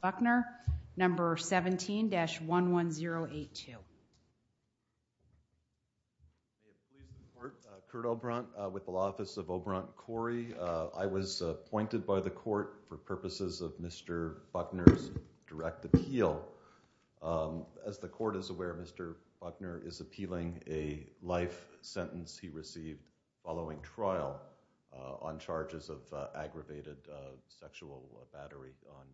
Buckner number 17-11082. May it please the court, Kurt Obrant with the law office of Obrant Corrie. I was appointed by the court for purposes of Mr. Buckner's direct appeal. As the court is aware Mr. Buckner is appealing a life sentence he received following trial on charges of aggravated sexual battery on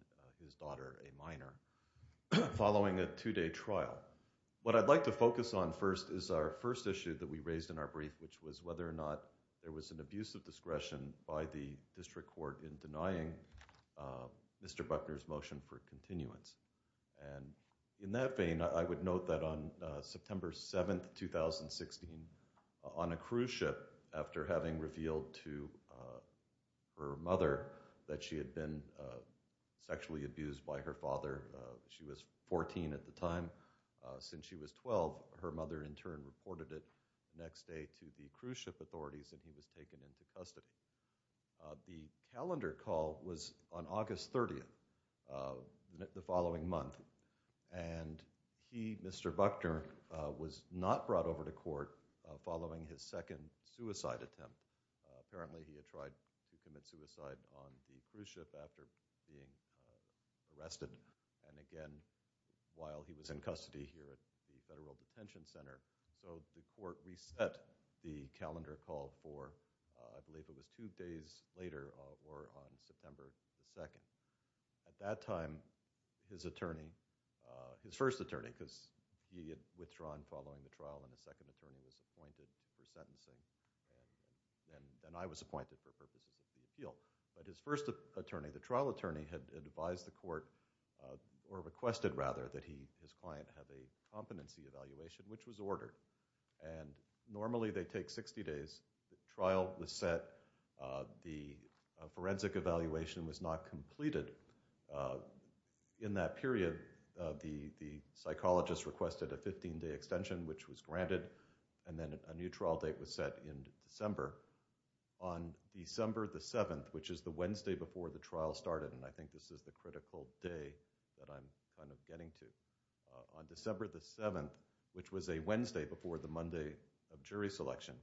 his daughter, a minor, following a two-day trial. What I'd like to focus on first is our first issue that we raised in our brief which was whether or not there was an abuse of discretion by the district court in denying Mr. Buckner's motion for continuance. And in that vein I would note that on September 7, 2016 on a cruise ship after having revealed to her mother that she had been sexually abused by her father, she was 14 at the time, since she was 12 her mother in turn reported it next day to the cruise ship authorities and he was taken into custody. The calendar call was on August 30th, the following month, and he, Mr. Buckner, was not brought over to court following his second suicide attempt. Apparently he had tried to commit suicide on the cruise ship after being arrested and again while he was in custody here at the Federal Detention Center. So the court reset the calendar call for I believe it was two days later or on September the 2nd. At that time his attorney, his first attorney, because he had withdrawn following the trial and the second attorney was appointed for sentencing and I was appointed for purposes of the appeal. But his first attorney, the trial attorney, had advised the court or requested rather that he his client have a competency evaluation which was ordered. And normally they take 60 days. The trial was set. The forensic evaluation was not completed in that period. The psychologist requested a 15-day extension which was granted and then a new trial date was set in December. On December the 7th, which is the Wednesday before the trial started, and I think this is the critical day that I'm kind of getting to, on December the 7th, which was a Wednesday before the Monday of jury selection,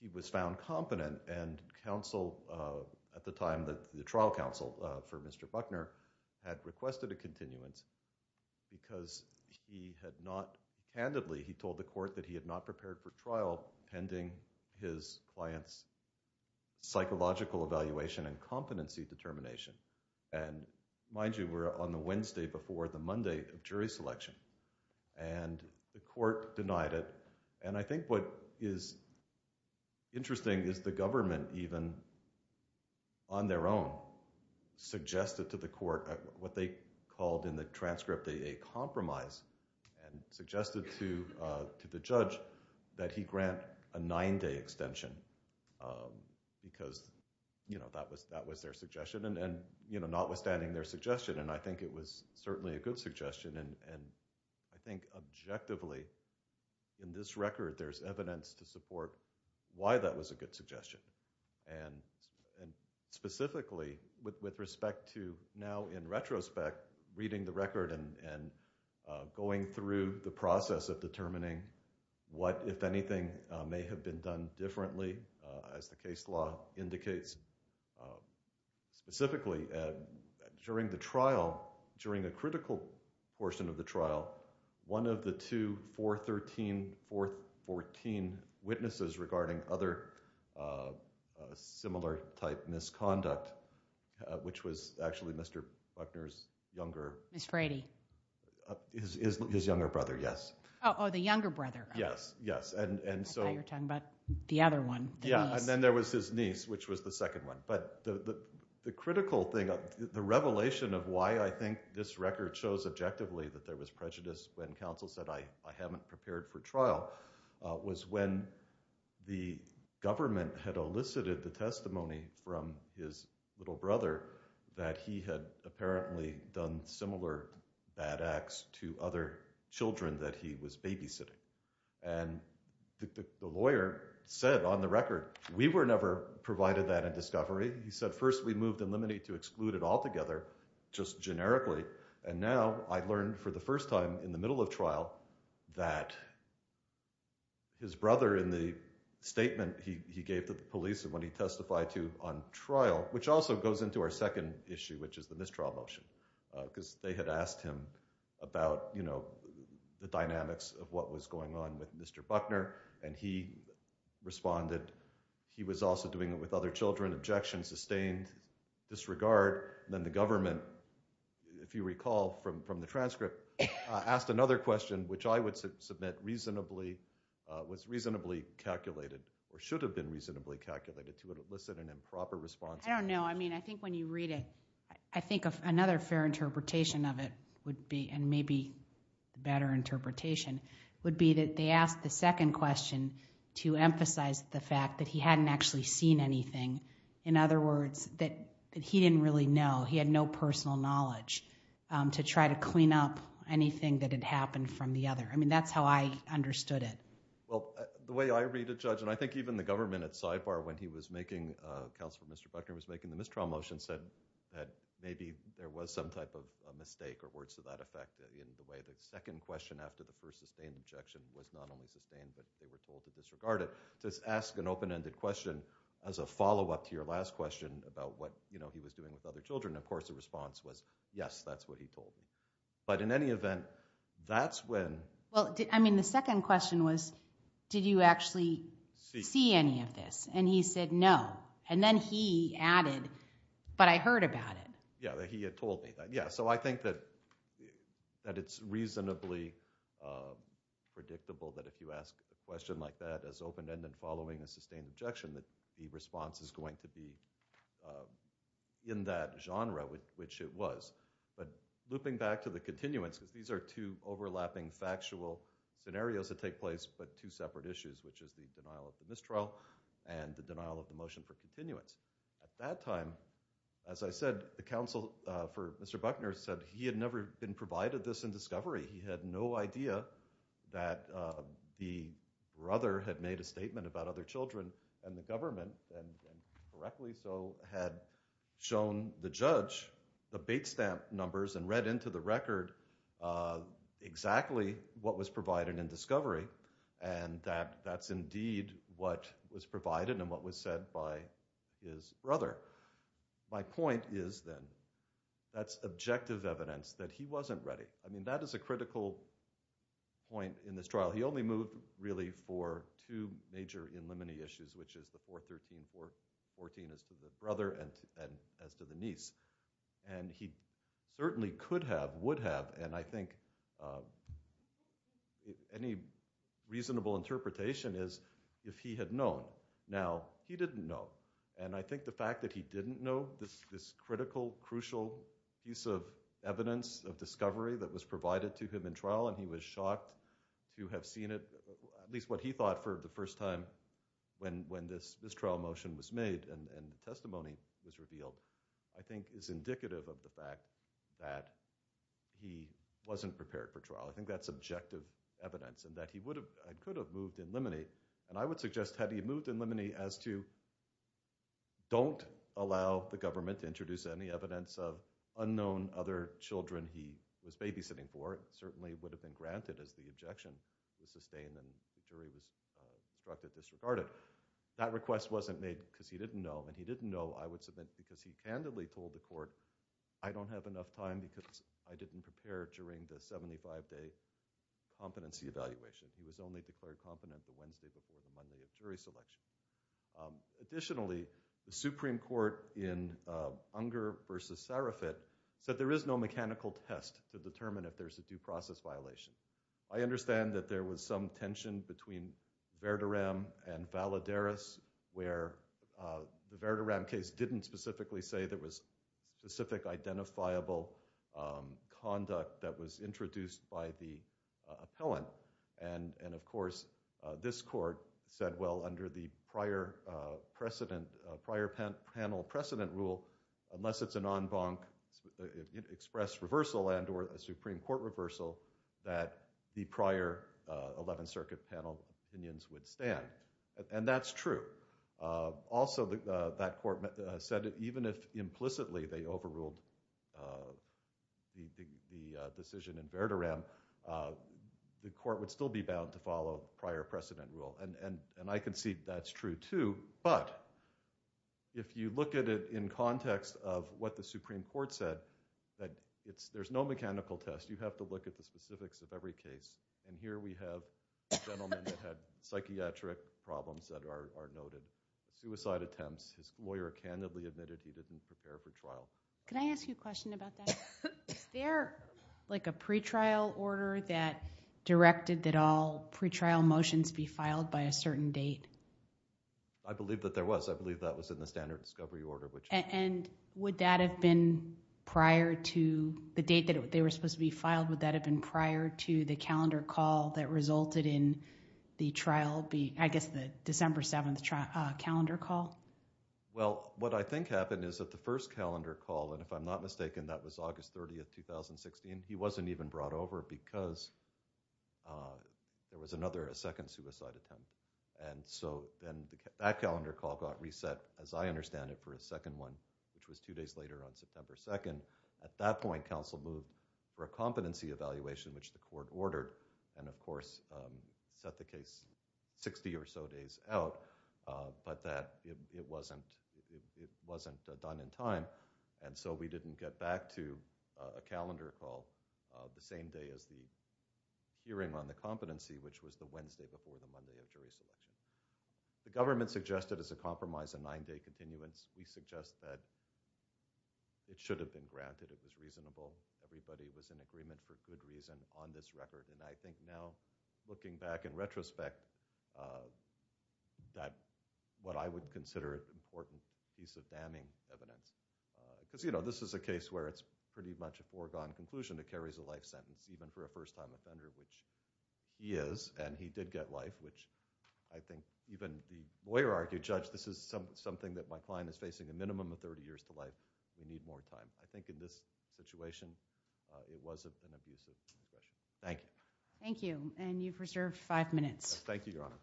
he was found competent and counsel at the time that the trial counsel for Mr. Buckner had candidly he told the court that he had not prepared for trial pending his client's psychological evaluation and competency determination. And mind you, we're on the Wednesday before the Monday of jury selection and the court denied it. And I think what is interesting is the government even on their own suggested to the court what they called in the transcript a compromise and suggested to the judge that he grant a 9-day extension because that was their suggestion and notwithstanding their suggestion, and I think it was certainly a good suggestion and I think objectively in this record there's evidence to support why that was a good suggestion. And specifically with respect to now in retrospect reading the record and going through the process of determining what, if anything, may have been done differently as the case law indicates. Specifically during the trial, during the critical portion of the trial, one of the two 413, 414 witnesses regarding other similar type misconduct, which was actually Mr. Buckner's younger brother. His younger brother, yes. Oh, the younger brother. Yes, yes. I thought you were talking about the other one. Yeah, and then there was his niece, which was the second one. But the critical thing, the revelation of why I think this record shows objectively that there was prejudice when counsel said I haven't prepared for trial was when the government had elicited the testimony from his little brother that he had apparently done similar bad acts to other children that he was babysitting. And the lawyer said on the record we were never provided that in discovery. He said first we moved in limine to exclude it altogether, just generically, and now I learned for the first time in the middle of trial that his brother in the statement he gave to the police when he testified to on trial, which also goes into our second issue, which is the misdraw motion, because they had asked him about the dynamics of what was going on with Mr. Buckner. And he responded he was also doing it with other children. Objection, sustained disregard. Then the government, if you recall from the transcript, asked another question, which I would submit was reasonably calculated, or should have been reasonably calculated to elicit an improper response. I think when you read it, I think another fair interpretation of it would be, and maybe a better interpretation, would be that they asked the second question to emphasize the fact that he hadn't actually seen anything. In other words, that he didn't really know. He had no personal knowledge to try to clean up anything that had happened from the other. I mean, that's how I understood it. Well, the way I read it, Judge, and I think even the government at sidebar when he was making, Counselor Mr. Buckner was making the mistrial motion, said that maybe there was some type of mistake or words to that effect in the way the second question after the first sustained objection was not only sustained, but they were told to disregard it. Just ask an open-ended question as a follow-up to your last question about what he was doing with other children. Of course, the response was, yes, that's what he told me. But in any event, that's when... Well, I mean, the second question was, did you actually see any of this? And he said, no. And then he added, but I heard about it. Yeah, that he had told me that. Yeah, so I think that it's reasonably predictable that if you ask a question like that as open-ended following a sustained objection, that the response is going to be in that genre, which it was. But looping back to the continuance, because these are two overlapping factual scenarios that take place, but two separate issues, which is the denial of the mistrial and the denial of the motion for continuance. At that time, as I said, the counsel for Mr. Buckner said he had never been provided this in discovery. He had no idea that the brother had made a statement about other children and the government, and correctly so, had shown the judge the bait stamp numbers and read into the record exactly what was provided in discovery. And that's indeed what was provided and what was said by his brother. My point is, then, that's objective evidence that he wasn't ready. I mean, that is a critical point in this trial. He only moved, really, for two major in limine issues, which is the 413-414 as to the brother and as to the niece. And he certainly could have, would have, and I think any reasonable interpretation is if he had known. Now, he didn't know. And I think the fact that he didn't know this critical, crucial piece of evidence of discovery that was provided to him in trial, and he was shocked to have seen it, at least what he thought for the first time when this mistrial motion was made and the testimony was revealed, I think is indicative of the fact that he wasn't prepared for trial. I think that's objective evidence, and that he would have and could have moved in limine. And I would suggest had he moved in limine as to don't allow the government to introduce any evidence of unknown other children he was babysitting for, it certainly would have been granted as the objection was sustained and the jury was struck and disregarded. That request wasn't made because he didn't know. And he didn't know, I would submit, because he candidly told the court, I don't have enough time because I didn't prepare during the 75-day competency evaluation. He was only declared competent the Wednesday before the Monday of jury selection. Additionally, the Supreme Court in Unger versus Sarafat said there is no mechanical test to determine if there's a due process violation. I understand that there was some tension between Verduram and Valadares where the Verduram case didn't specifically say there was specific identifiable conduct that was introduced by the appellant. And of course, this court said, well, under the prior panel precedent rule, unless it's an en banc express reversal and or a Supreme Court reversal, that the prior 11th Circuit panel opinions would stand. And that's true. Also, that court said even if implicitly they overruled the decision in Verduram, the court would still be bound to follow prior precedent rule. And I can see that's true, too. But if you look at it in context of what the Supreme Court said, there's no mechanical test. You have to look at the specifics of every case. And here we have a gentleman that had psychiatric problems that are noted. Suicide attempts. His lawyer candidly admitted he didn't prepare for trial. Can I ask you a question about that? Is there like a pretrial order that directed that all pretrial motions be filed by a certain date? I believe that there was. I believe that was in the standard discovery order. And would that have been prior to the date that they were supposed to be filed? Would that have been prior to the calendar call that resulted in the trial be, I guess, the December 7th calendar call? Well, what I think happened is that the first calendar call, and if I'm not mistaken, that was August 30th, 2016, he wasn't even brought over because there was another second suicide attempt. And so then that calendar call got reset, as I understand it, for a second one, which was two days later on September 2nd. At that point, counsel moved for a competency evaluation, which the court ordered, and of course set the case 60 or so days out, but that it wasn't done in time. And so we didn't get back to a calendar call the same day as the hearing on the competency, which was the Wednesday before the Monday of jury selection. The government suggested as a compromise a nine-day continuance. We suggest that it should have been granted. It was reasonable. Everybody was in agreement for good reason on this record. And I think now, looking back in retrospect, what I would consider an important piece of damning evidence, because this is a case where it's pretty much a foregone conclusion. It carries a life sentence, even for a first-time offender, which he is, and he did get life, which I think even the lawyer argued, this is something that my client is facing a minimum of 30 years to life. We need more time. I think in this situation, it wasn't an abusive aggression. Thank you. Thank you. And you've reserved five minutes. Thank you, Your Honor.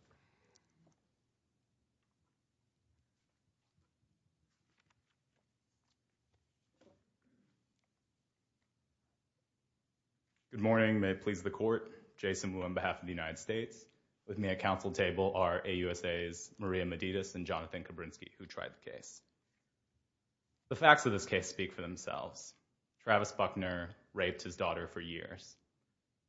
Good morning. May it please the court. Jason Wu on behalf of the United States. With me at counsel table are AUSAs Maria Medidis and Jonathan Kabrinsky, who tried the case. The facts of this case speak for themselves. Travis Buckner raped his daughter for years,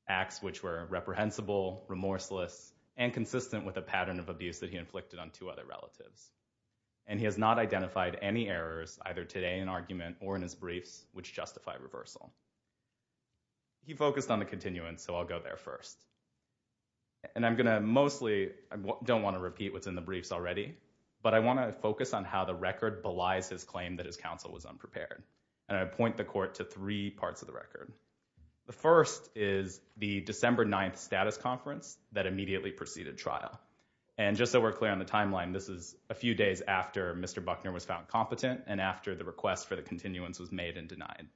acts which were reprehensible, remorseless, and consistent with a pattern of abuse that he inflicted on two other relatives. And he has not identified any errors, either today in argument or in his briefs, which justify reversal. He focused on the continuance, so I'll go there first. And I'm going to mostly, I don't want to repeat what's in the briefs already, but I want to focus on how the record belies his claim that his counsel was unprepared. And I point the court to three parts of the record. The first is the December 9th status conference that immediately preceded trial. And just so we're clear on the timeline, this is a few days after Mr. Buckner was found competent and after the request for the continuance was made and denied.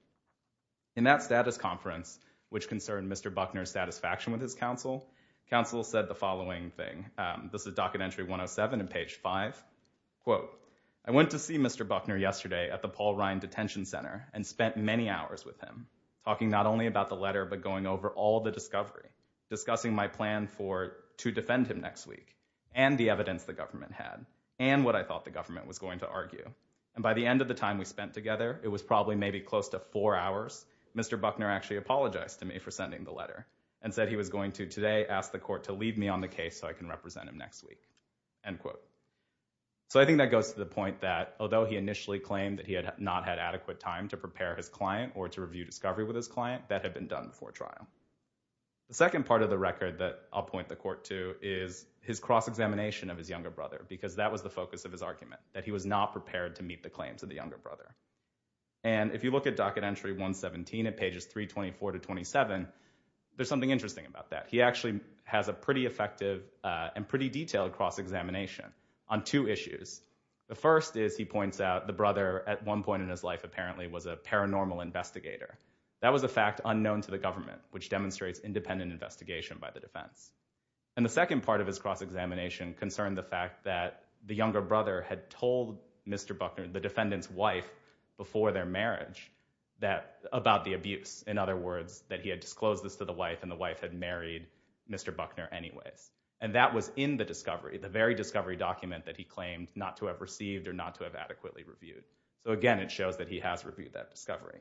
In that status conference, which concerned Mr. Buckner's satisfaction with his counsel, counsel said the following thing. This is Docket Entry 107 in page 5. Quote, I went to see Mr. Buckner yesterday at the Paul Ryan Detention Center and spent many hours with him, talking not only about the letter, but going over all the discovery, discussing my plan for to defend him next week and the evidence the government had and what I thought the government was going to argue. And by the end of the time we spent together, it was probably maybe close to four hours, Mr. Buckner actually apologized to me for sending the letter and said he was going to today ask the court to leave me on the case so I can represent him next week, end quote. So I think that goes to the point that although he initially claimed that he had not had adequate time to prepare his client or to review discovery with his client, that had been done before trial. The second part of the record that I'll point the court to is his cross-examination of his younger brother because that was the focus of his argument, that he was not prepared to meet the claims of the younger brother. And if you look at docket entry 117 at pages 324 to 27, there's something interesting about that. He actually has a pretty effective and pretty detailed cross-examination on two issues. The first is he points out the brother at one point in his life apparently was a paranormal investigator. That was a fact unknown to the government, which demonstrates independent investigation by the defense. And the second part of his cross-examination concerned the fact that the younger brother had told Mr. Buckner, the defendant's wife, before their marriage about the abuse. In other words, that he had disclosed this to the wife and the wife had married Mr. Buckner anyways. And that was in the discovery, the very discovery document that he claimed not to have received or not to have adequately reviewed. So again, it shows that he has reviewed that discovery.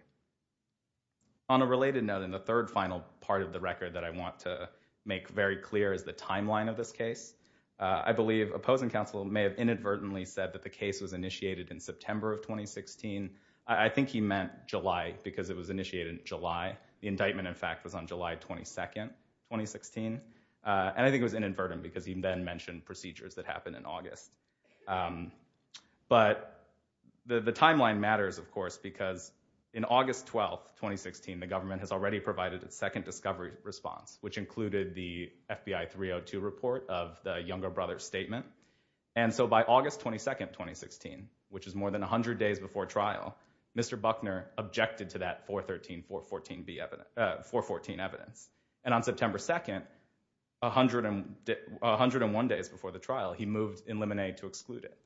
On a related note, in the third final part of the record that I want to make very clear is the timeline of this case. I believe opposing counsel may have inadvertently said that the case was initiated in September of 2016. I think he meant July because it was initiated in July. The indictment, in fact, was on July 22, 2016. And I think it was inadvertent because he then mentioned procedures that happened in August. But the timeline matters, of course, because in August 12, 2016, the government has already provided its second discovery response, which included the FBI 302 report of the younger brother's statement. And so by August 22, 2016, which is more than 100 days before trial, Mr. Buckner objected to that 413, 414 evidence. And on September 2, 101 days before the trial, he moved in Lemonade to exclude it.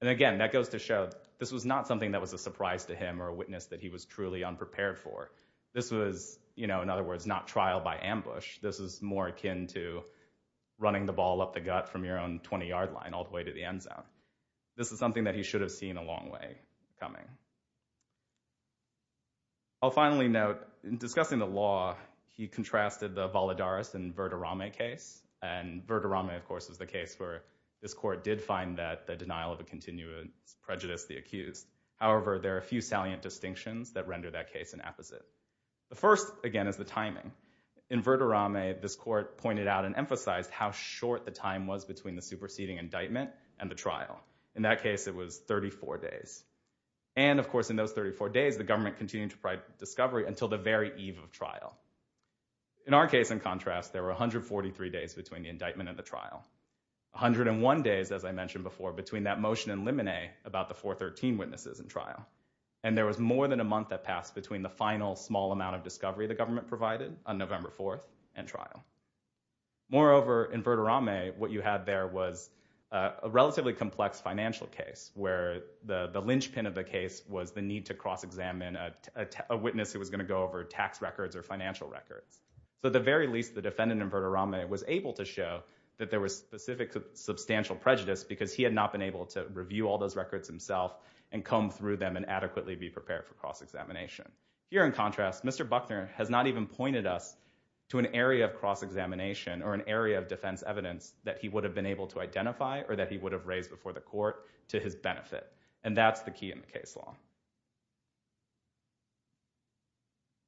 And again, that goes to show this was not something that was a surprise to him or a witness that he was truly unprepared for. This was, you know, in other words, not trial by ambush. This is more akin to running the ball up the gut from your own 20-yard line all the way to the end zone. This is something that he should have seen a long way coming. I'll finally note, in discussing the law, he contrasted the Valadares and Verderame case. And Verderame, of course, was the case where this court did find that the denial of a continuance prejudiced the accused. However, there are a few salient distinctions that render that case an apposite. The first, again, is the timing. In Verderame, this court pointed out and emphasized how short the time was between the superseding indictment and the trial. In that case, it was 34 days. And of course, in those 34 days, the government continued to provide discovery until the very eve of trial. In our case, in contrast, there were 143 days between the indictment and the trial. 101 days, as I mentioned before, between that motion in Lemonade about the 413 witnesses in trial. And there was more than a month that passed between the final small amount of discovery the government provided on November 4th and trial. Moreover, in Verderame, what you had there was a relatively complex financial case where the linchpin of the case was the need to cross-examine a witness who was going to go over tax records or financial records. So at the very least, the defendant in Verderame was able to show that there was specific substantial prejudice because he had not been able to review all those records himself and comb through them and adequately be prepared for cross-examination. Here, in contrast, Mr. Buckner has not even pointed us to an area of cross-examination or an area of defense evidence that he would have been able to identify or that he would have raised before the court to his benefit. And that's the key in the case law.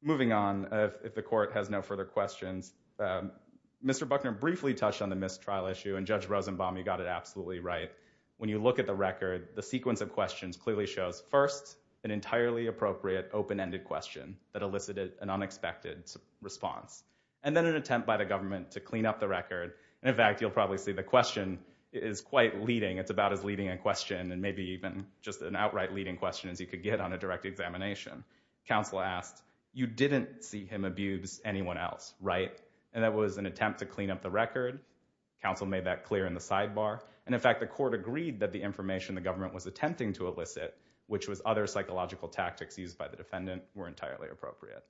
Moving on, if the court has no further questions, Mr. Buckner briefly touched on the missed trial issue and Judge Rosenbaum, you got it absolutely right. When you look at the record, the sequence of questions clearly shows first, an entirely appropriate open-ended question that elicited an unexpected response. And then an attempt by the government to clean up the record. And in fact, you'll probably see the question is quite leading. It's about as leading a question and maybe even just an outright leading question as you could get on a direct examination. Counsel asked, you didn't see him abuse anyone else, right? And that was an attempt to clean up the record. Counsel made that clear in the sidebar. And in fact, the court agreed that the information the government was attempting to elicit, which was other psychological tactics used by the defendant, were entirely appropriate.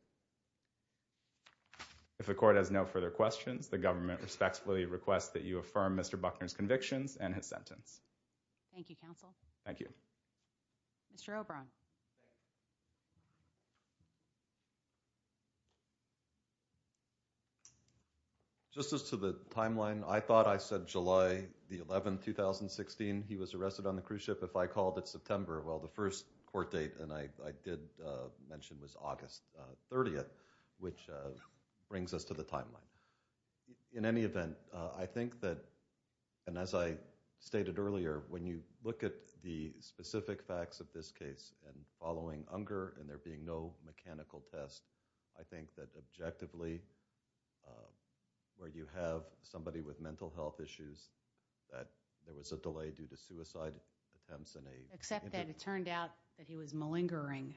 If the court has no further questions, the government respectfully requests that you affirm Mr. Buckner's convictions and his sentence. Thank you, counsel. Thank you. Mr. Obron. Just as to the timeline, I thought I said July the 11th, 2016. He was arrested on the cruise ship if I called it September. Well, the first court date, and I did mention, was August 30th, which brings us to the timeline. In any event, I think that, and as I stated earlier, when you look at the specific facts of this case and following Unger and there being no mechanical test, I think that objectively, where you have somebody with mental health issues, that there was a delay due to suicide attempts. Except that it turned out that he was malingering.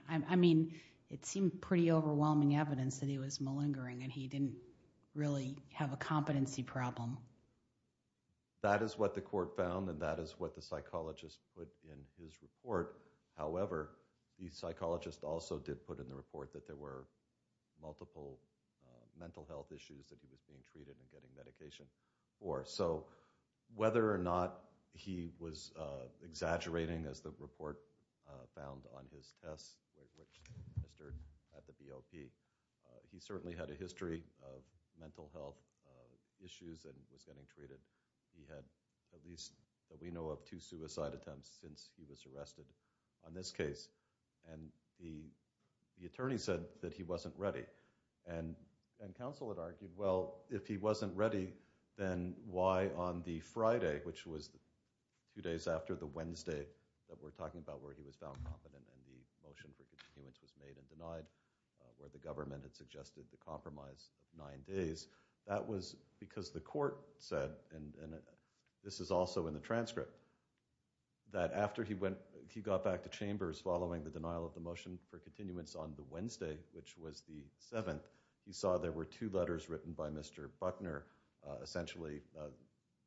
It seemed pretty overwhelming evidence that he was malingering and he didn't really have a competency problem. That is what the court found and that is what the psychologist put in his report. However, the psychologist also did put in the report that there were multiple mental health issues that he was being treated and getting medication for. Whether or not he was exaggerating, as the report found on his test, which was administered at the BOP, he certainly had a history of mental health issues and was getting treated. He had, at least that we know of, two suicide attempts since he was arrested on this case. The attorney said that he wasn't ready. Counsel had argued, well, if he wasn't ready, then why on the Friday, which was two days after the Wednesday that we're talking about where he was found competent and the motion for continuance was made and denied, where the government had suggested the compromise of nine days, that was because the court said, and this is also in the transcript, that after he got back to chambers following the denial of the motion for continuance on the Wednesday, which was the seventh, he saw there were two letters written by Mr. Buckner essentially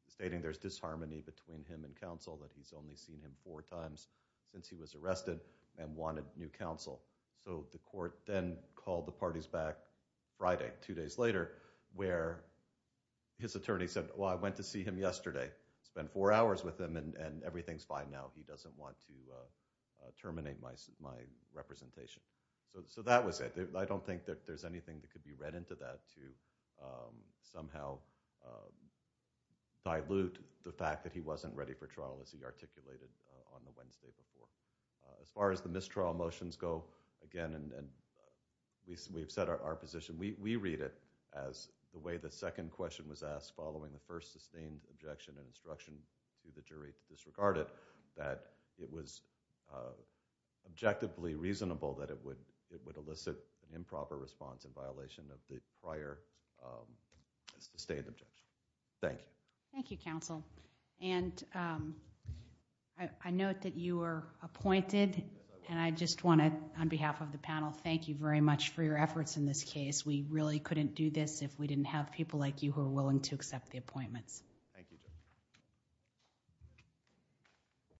stating there's disharmony between him and counsel, that he's only seen him four times since he was arrested and wanted new counsel. So the court then called the parties back Friday, two days later, where his attorney said, well, I went to see him yesterday, spent four hours with him and everything's fine now. He doesn't want to terminate my representation. So that was it. I don't think that there's anything that could be read into that to somehow dilute the fact that he wasn't ready for trial as he articulated on the Wednesday before. As far as the mistrial motions go, again, and we've set our position, we read it as the way the second question was asked following the first sustained objection and instruction to the jury to disregard it, that it was objectively reasonable that it would elicit an improper response in violation of the prior sustained objection. Thank you. Thank you, counsel. And I note that you were appointed. And I just want to, on behalf of the panel, thank you very much for your efforts in this case. We really couldn't do this if we didn't have people like you who are willing to accept the appointments. Thank you, Judge.